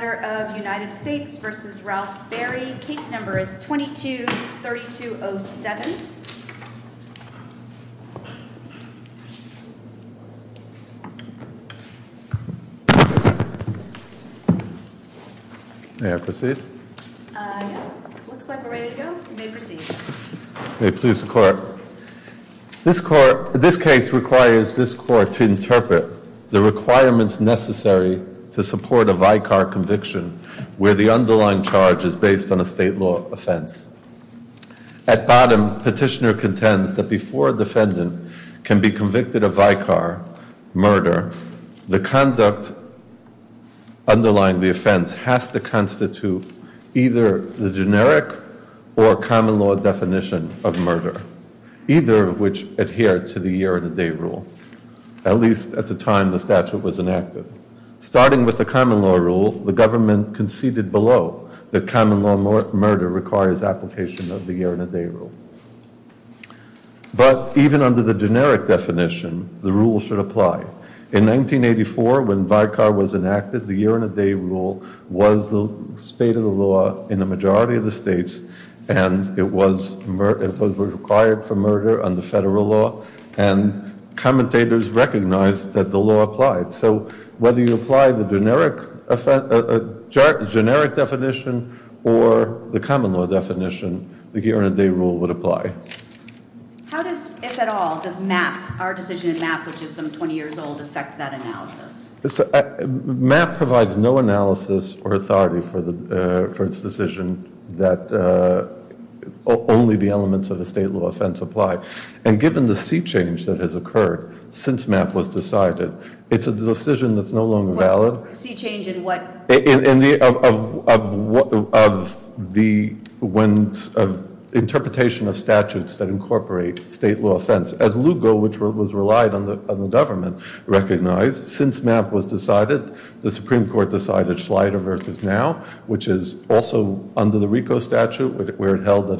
v. Ralph Berry, Case No. 22-3207. This case requires this Court to interpret the requirements necessary to support a Vicar conviction where the underlying charge is based on a state law offense. At bottom, Petitioner contends that before a defendant can be convicted of Vicar murder, the conduct underlying the offense has to constitute either the generic or common law definition of murder, either of which adhere to the year-and-a-day rule. At least at the time the statute was enacted. Starting with the common law rule, the government conceded below that common law murder requires application of the year-and-a-day rule. But even under the generic definition, the rule should apply. In 1984, when Vicar was enacted, the year-and-a-day rule was the state of the law in the majority of the states, and it was required for murder under federal law, and commentators recognized that the law applied. So whether you apply the generic definition or the common law definition, the year-and-a-day rule would apply. How does, if at all, does MAP, our decision in MAP, which is some 20 years old, affect that analysis? MAP provides no analysis or authority for its decision that only the elements of a state law offense apply. And given the sea change that has occurred since MAP was decided, it's a decision that's no longer valid. What? Sea change in what? In the interpretation of statutes that incorporate state law offense. As Lugo, which was relied on the government, recognized, since MAP was decided, the Supreme Court decided Schleider v. Now, which is also under the RICO statute, where it held that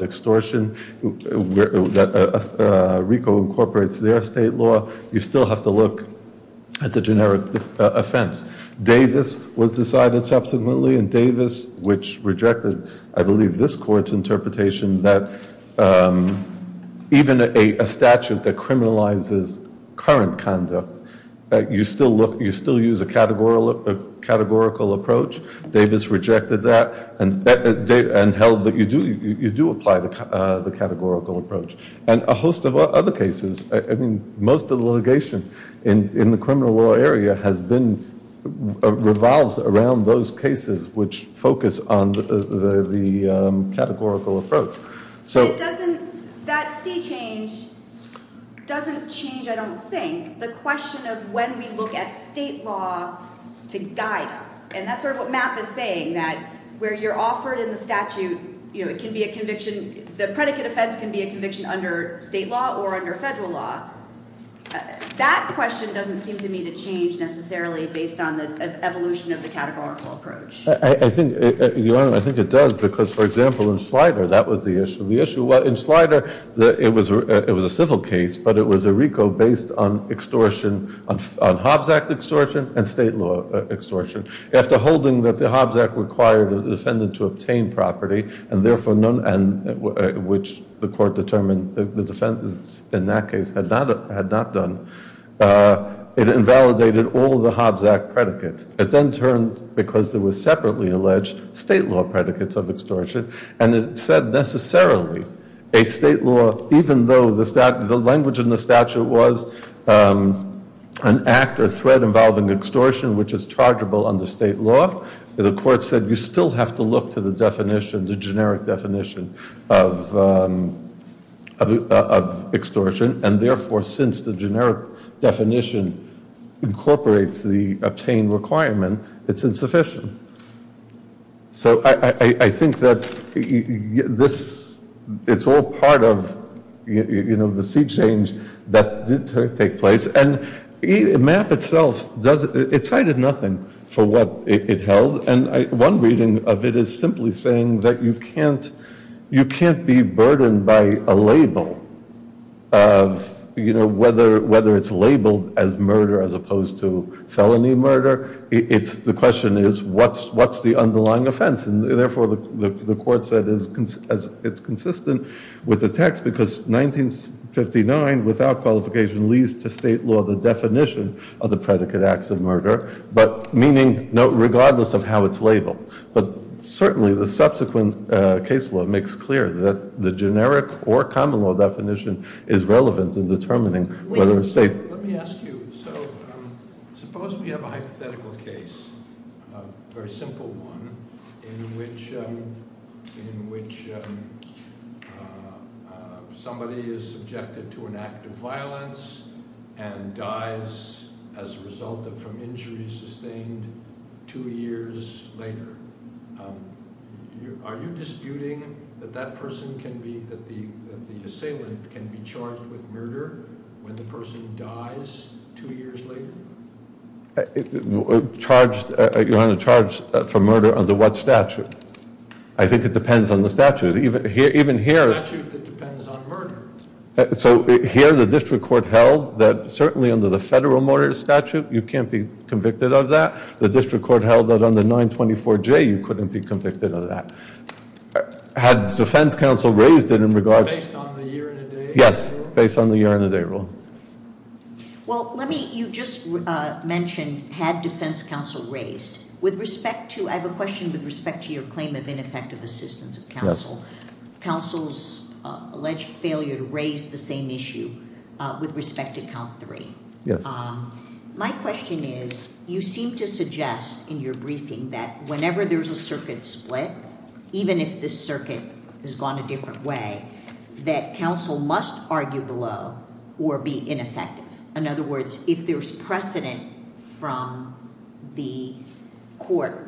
RICO incorporates their state law, you still have to look at the generic offense. Davis was decided subsequently, and Davis, which rejected, I believe, this court's interpretation that even a statute that criminalizes current conduct, you still use a categorical approach. Davis rejected that and held that you do apply the categorical approach. And a host of other cases, I mean, most of the litigation in the criminal law area has been, revolves around those cases which focus on the categorical approach. So it doesn't, that sea change doesn't change, I don't think, the question of when we look at state law to guide us. And that's sort of what MAP is saying, that where you're offered in the statute, it can be a conviction, the predicate offense can be a conviction under state law or under federal law. That question doesn't seem to me to change, necessarily, based on the evolution of the categorical approach. I think, Your Honor, I think it does, because, for example, in Schleider, that was the issue. The issue was, in Schleider, it was a civil case, but it was a RICO based on extortion, on Hobbs Act extortion and state law extortion. After holding that the Hobbs Act required the defendant to obtain property, and therefore none, which the court determined the defendant, in that case, had not done, it invalidated all the Hobbs Act predicates. It then turned, because there were separately alleged state law predicates of extortion, and it said, necessarily, a state law, even though the language in the statute was an act or threat involving extortion, which is chargeable under state law, the court said, you still have to look to the definition, the generic definition of extortion, and therefore, since the generic definition incorporates the obtained requirement, it's insufficient. So, I think that this, it's all part of, you know, the sea change that did take place, and MAP itself, it cited nothing for what it held, and one reading of it is simply saying that you can't, you can't be burdened by a label of, you know, whether it's labeled as what's the underlying offense, and therefore, the court said it's consistent with the text because 1959, without qualification, leads to state law, the definition of the predicate acts of murder, but meaning, no, regardless of how it's labeled, but certainly, the subsequent case law makes clear that the generic or common law definition is relevant in determining whether a state- Very simple one, in which somebody is subjected to an act of violence and dies as a result of, from injuries sustained two years later. Are you disputing that that person can be, that the assailant can be charged with murder when the person dies two years later? Charged, you're under charge for murder under what statute? I think it depends on the statute. Even here- Statute that depends on murder. So here, the district court held that certainly under the federal murder statute, you can't be convicted of that. The district court held that under 924J, you couldn't be convicted of that. Had the defense counsel raised it in regards- Based on the year and a day rule? Yes, based on the year and a day rule. Well, let me, you just mentioned, had defense counsel raised. With respect to, I have a question with respect to your claim of ineffective assistance of counsel. Yes. Counsel's alleged failure to raise the same issue with respect to count three. Yes. My question is, you seem to suggest in your briefing that whenever there's a circuit split, even if this circuit has gone a different way, that counsel must argue below or be ineffective. In other words, if there's precedent from the court,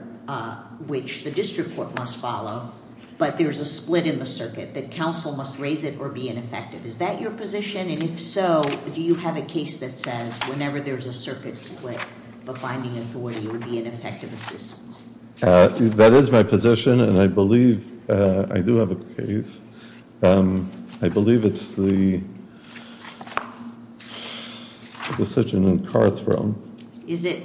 which the district court must follow, but there's a split in the circuit, that counsel must raise it or be ineffective. Is that your position? And if so, do you have a case that says whenever there's a circuit split, but finding authority would be an effective assistance? That is my position, and I believe I do have a case. I believe it's the decision in Carthrone. Is it?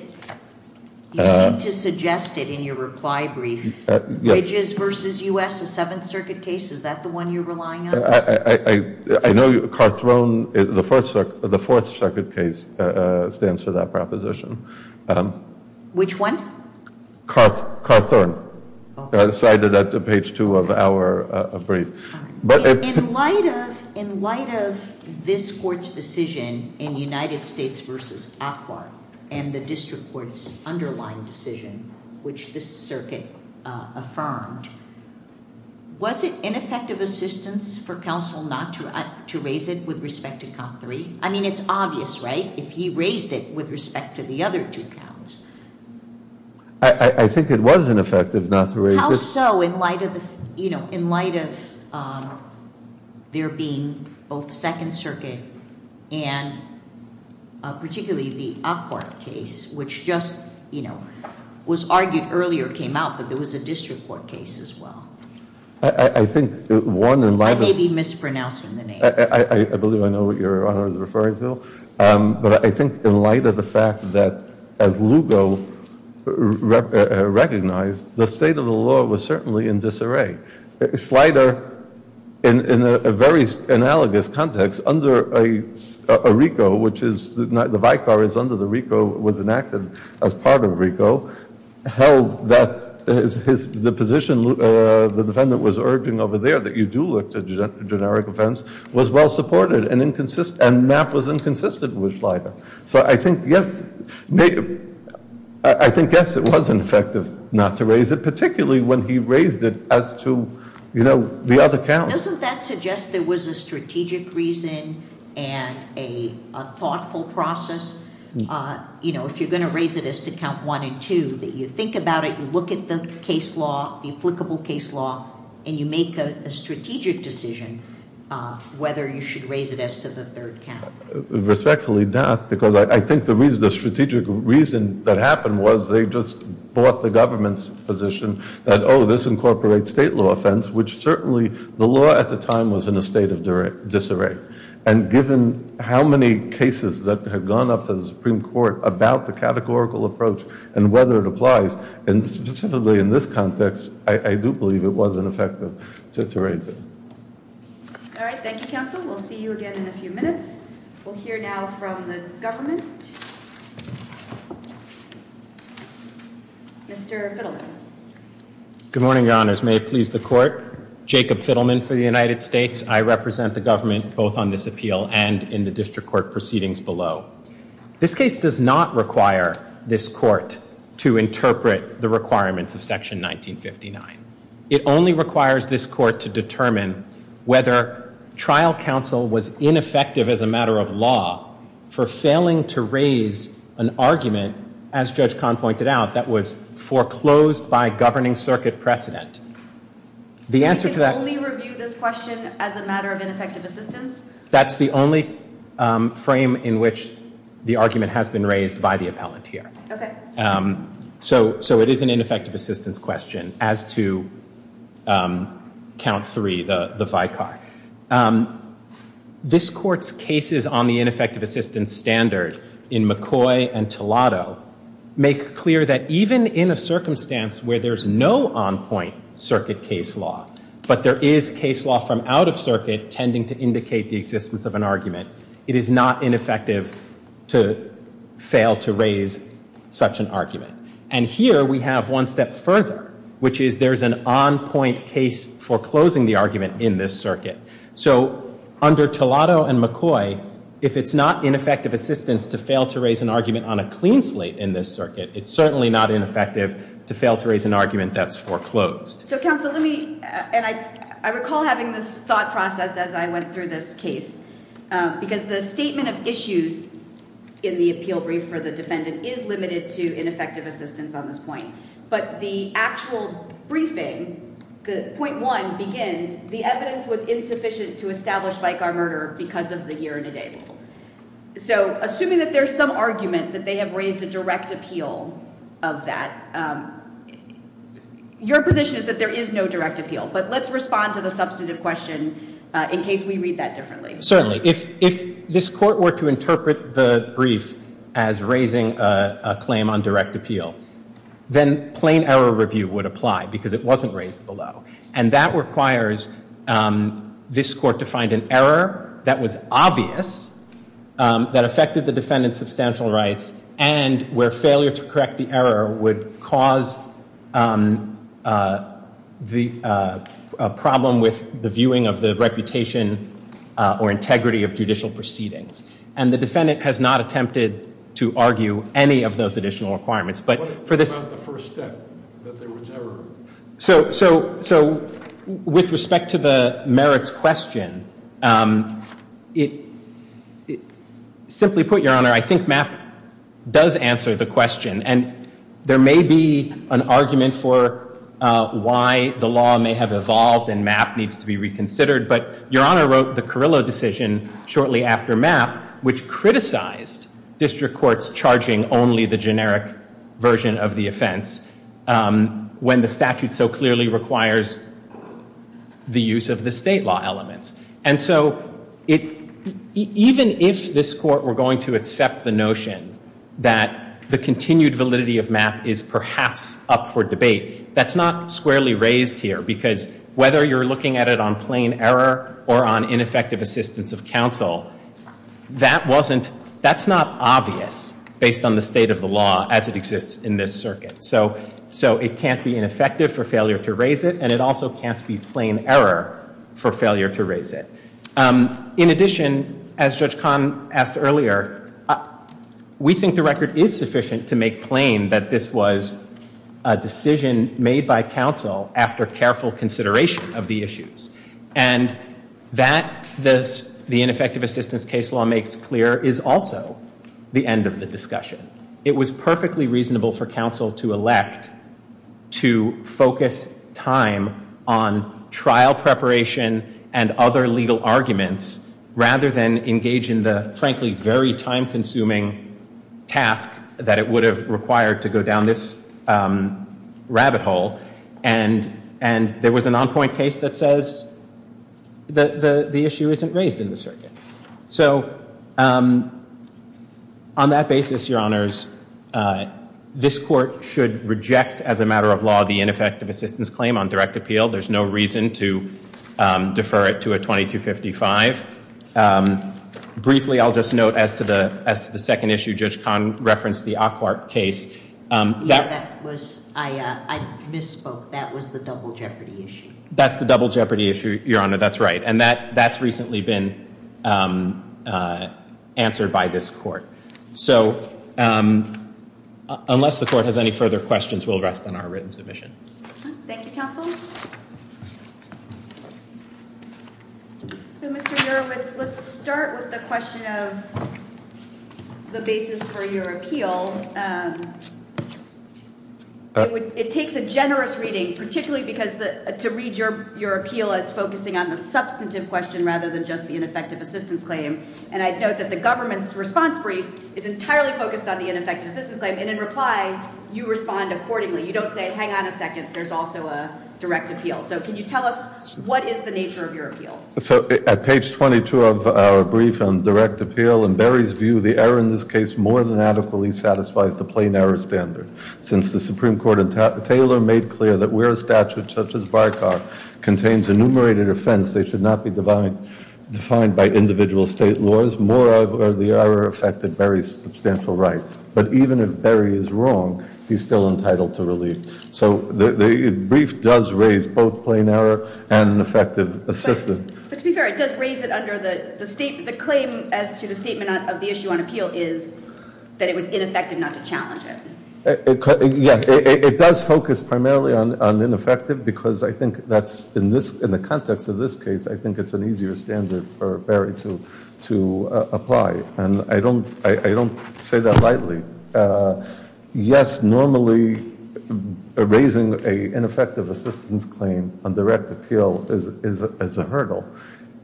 You seem to suggest it in your reply brief. Bridges versus U.S., a Seventh Circuit case, is that the one you're relying on? I know Carthrone, the Fourth Circuit case, stands for that proposition. Which one? Carthrone, cited at the page two of our brief. In light of this court's decision in United States v. Aquart, and the district court's underlying decision, which this circuit affirmed, was it ineffective assistance for counsel not to raise it with respect to count three? I mean, it's obvious, right? If he raised it with respect to the other two counts... I think it was ineffective not to raise it... How so in light of there being both Second Circuit and particularly the Aquart case, which just was argued earlier, came out, but there was a district court case as well? I think one... I may be mispronouncing the names. I believe I know what Your Honor is referring to, but I think in light of the fact that as Lugo recognized, the state of the law was certainly in disarray. Slider, in a very analogous context under a RICO, which is the vicar is under the RICO, was enacted as part of RICO, held that the position the defendant was urging over there, that you do look to generic offense, was well supported, and Mapp was inconsistent with Slider. So I think, yes, it was ineffective not to raise it, particularly when he raised it as to the other counts. Doesn't that suggest there was a strategic reason and a thoughtful process? If you're going to raise it as to count one and two, that you think about it, you look at the case law, and you make a strategic decision whether you should raise it as to the third count. Respectfully not, because I think the strategic reason that happened was they just bought the government's position that, oh, this incorporates state law offense, which certainly the law at the time was in a state of disarray. And given how many cases that have gone up to the Supreme Court about the categorical approach and whether it applies, and specifically in this context, I do believe it wasn't effective to raise it. All right. Thank you, counsel. We'll see you again in a few minutes. We'll hear now from the government. Mr. Fiddleman. Good morning, Your Honors. May it please the Court. Jacob Fiddleman for the United States. I represent the government both on this appeal and in the district court proceedings below. This case does not require this Court to interpret the requirements of Section 1959. It only requires this Court to determine whether trial counsel was ineffective as a matter of law for failing to raise an argument, as Judge Kahn pointed out, that was foreclosed by a governing circuit precedent. The answer to that- We can only review this question as a matter of ineffective assistance? That's the only frame in which the argument has been raised by the appellant here. So it is an ineffective assistance question as to count three, the vicar. This Court's cases on the ineffective assistance standard in McCoy and Tellato make clear that even in a circumstance where there's no on-point circuit case law, but there is case law from out circuit tending to indicate the existence of an argument, it is not ineffective to fail to raise such an argument. And here we have one step further, which is there's an on-point case foreclosing the argument in this circuit. So under Tellato and McCoy, if it's not ineffective assistance to fail to raise an argument on a clean slate in this circuit, it's certainly not ineffective to fail to raise an argument that's foreclosed. So counsel, let me, and I recall having this thought process as I went through this case, because the statement of issues in the appeal brief for the defendant is limited to ineffective assistance on this point. But the actual briefing, the point one begins, the evidence was insufficient to establish vicar murder because of the year and the date. So assuming that there's some argument that they have raised a direct appeal of that, your position is that there is no direct appeal. But let's respond to the substantive question in case we read that differently. Certainly. If this court were to interpret the brief as raising a claim on direct appeal, then plain error review would apply because it wasn't raised below. And that requires this court to find an error that was obvious, that affected the defendant's substantial rights, and where failure to correct the error would cause the problem with the viewing of the reputation or integrity of judicial proceedings. And the defendant has not attempted to argue any of those additional requirements. But for this... What about the first step, that there was error? So with respect to the merits question, simply put, your honor, I think Mapp does answer the question. And there may be an argument for why the law may have evolved and Mapp needs to be reconsidered. But your honor wrote the Carrillo decision shortly after Mapp, which criticized district courts charging only the generic version of the offense when the statute so clearly requires the use of the state law elements. And so even if this court were going to accept the notion that the continued validity of Mapp is perhaps up for debate, that's not squarely raised here. Because whether you're looking at it on plain error or on ineffective assistance of counsel, that's not obvious based on the state of the law as it exists in this circuit. So it can't be ineffective for failure to raise it and it also can't be plain error for failure to raise it. In addition, as Judge Kahn asked earlier, we think the record is sufficient to make plain that this was a decision made by counsel after careful consideration of the issues. And that the ineffective assistance case law makes clear is also the end of the discussion. It was perfectly reasonable for counsel to elect to focus time on trial preparation and other legal arguments rather than engage in the frankly very time-consuming task that it would have required to go down this rabbit hole. And there was an on-point case that says the issue isn't raised in the circuit. So on that basis, Your Honors, this court should reject as a matter of law the ineffective assistance claim on direct appeal. There's no reason to defer it to a 2255. Briefly, I'll just note as to the second issue, Judge Kahn referenced the Aquart case. Yeah, that was, I misspoke. That was the double jeopardy issue. That's the double jeopardy issue, Your Honor, that's right. And that's recently been answered by this court. So unless the court has any further questions, we'll rest on our written submission. Thank you, counsel. So, Mr. Jurowitz, let's start with the question of the basis for your appeal. It takes a generous reading, particularly because to read your appeal as focusing on the government's response brief is entirely focused on the ineffective assistance claim. And in reply, you respond accordingly. You don't say, hang on a second, there's also a direct appeal. So can you tell us what is the nature of your appeal? So at page 22 of our brief on direct appeal, in Barry's view, the error in this case more than adequately satisfies the plain error standard. Since the Supreme Court and Taylor made clear that where a statute such as VARCAR contains enumerated offense, they should not be defined by individual state laws, moreover, the error affected Barry's substantial rights. But even if Barry is wrong, he's still entitled to relief. So the brief does raise both plain error and effective assistance. But to be fair, it does raise it under the state, the claim as to the statement of the issue on appeal is that it was ineffective, not to challenge it. Yeah, it does focus primarily on ineffective because I think that's in this, in the context of this case, I think it's an easier standard for Barry to, to apply. And I don't, I don't say that lightly. Yes, normally raising a ineffective assistance claim on direct appeal is, is, is a hurdle.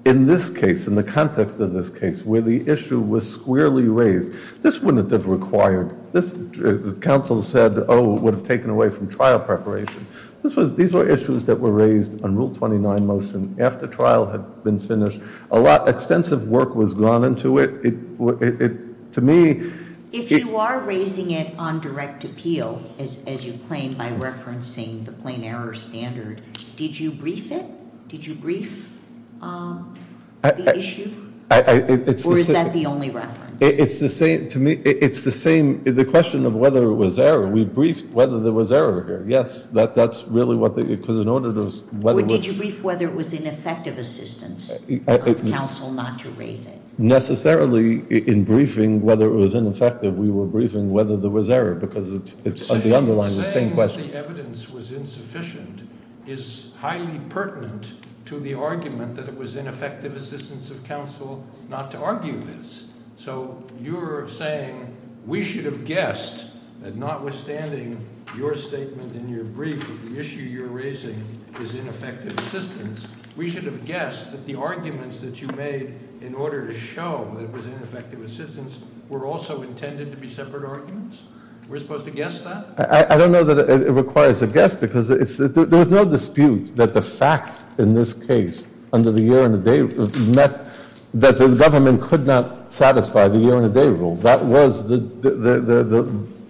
In this case, in the context of this case, where the issue was squarely raised, this wouldn't have required, this counsel said, oh, it would have taken away from trial preparation. This was, these were issues that were raised on rule 29 motion after trial had been finished. A lot, extensive work was gone into it. It, it, to me. If you are raising it on direct appeal, as, as you claim by referencing the plain error standard, did you brief it? Did you brief the issue? Or is that the only reference? It's the same, to me, it's the same, the question of whether it was error. We briefed whether there was error here. Yes, that, that's really what the, because in order to whether... Or did you brief whether it was ineffective assistance of counsel not to raise it? Necessarily in briefing whether it was ineffective, we were briefing whether there was error because it's, it's on the underlying the same question. Saying that the evidence was insufficient is highly pertinent to the argument that it was ineffective assistance of counsel not to argue this. So you're saying we should have guessed that notwithstanding your statement in your brief that the issue you're raising is ineffective assistance, we should have guessed that the arguments that you made in order to show that it was ineffective assistance were also intended to be separate arguments? We're supposed to guess that? I, I don't know that it requires a guess because it's, there's no dispute that the facts in this case under the year and the date met, that the government could not satisfy the year and a day rule. That was the, the, the, the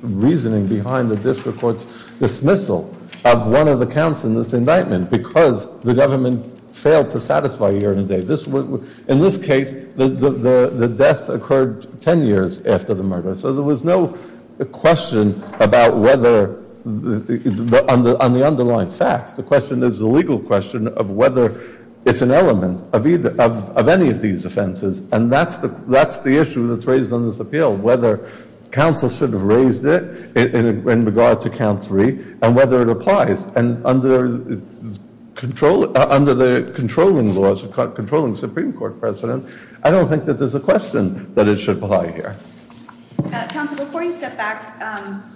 reasoning behind the district court's dismissal of one of the counts in this indictment because the government failed to satisfy year and a day. This, in this case, the, the, the death occurred 10 years after the murder. So there was no question about whether, on the, on the underlying facts. The question is the legal question of whether it's an element of either of, of any of these offenses. And that's the, that's the issue that's raised on this appeal, whether counsel should have raised it in regard to count three and whether it applies and under control, under the controlling laws of controlling Supreme Court precedent. I don't think that there's a question that it should apply here. Counsel, before you step back,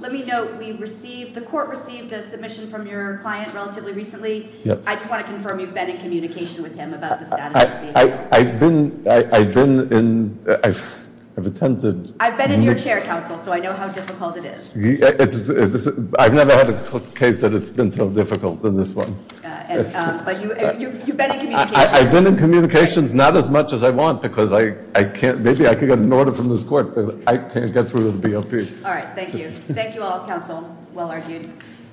let me know if we received, the court received a client relatively recently. Yes. I just want to confirm you've been in communication with him about the status of the appeal. I've been, I've been in, I've attended. I've been in your chair, counsel, so I know how difficult it is. It's, it's, I've never had a case that it's been so difficult than this one. But you, you've been in communication. I've been in communications, not as much as I want, because I, I can't, maybe I could get an order from this court, but I can't get through to the BOP. All right. Thank you. Thank you all, counsel. Well argued.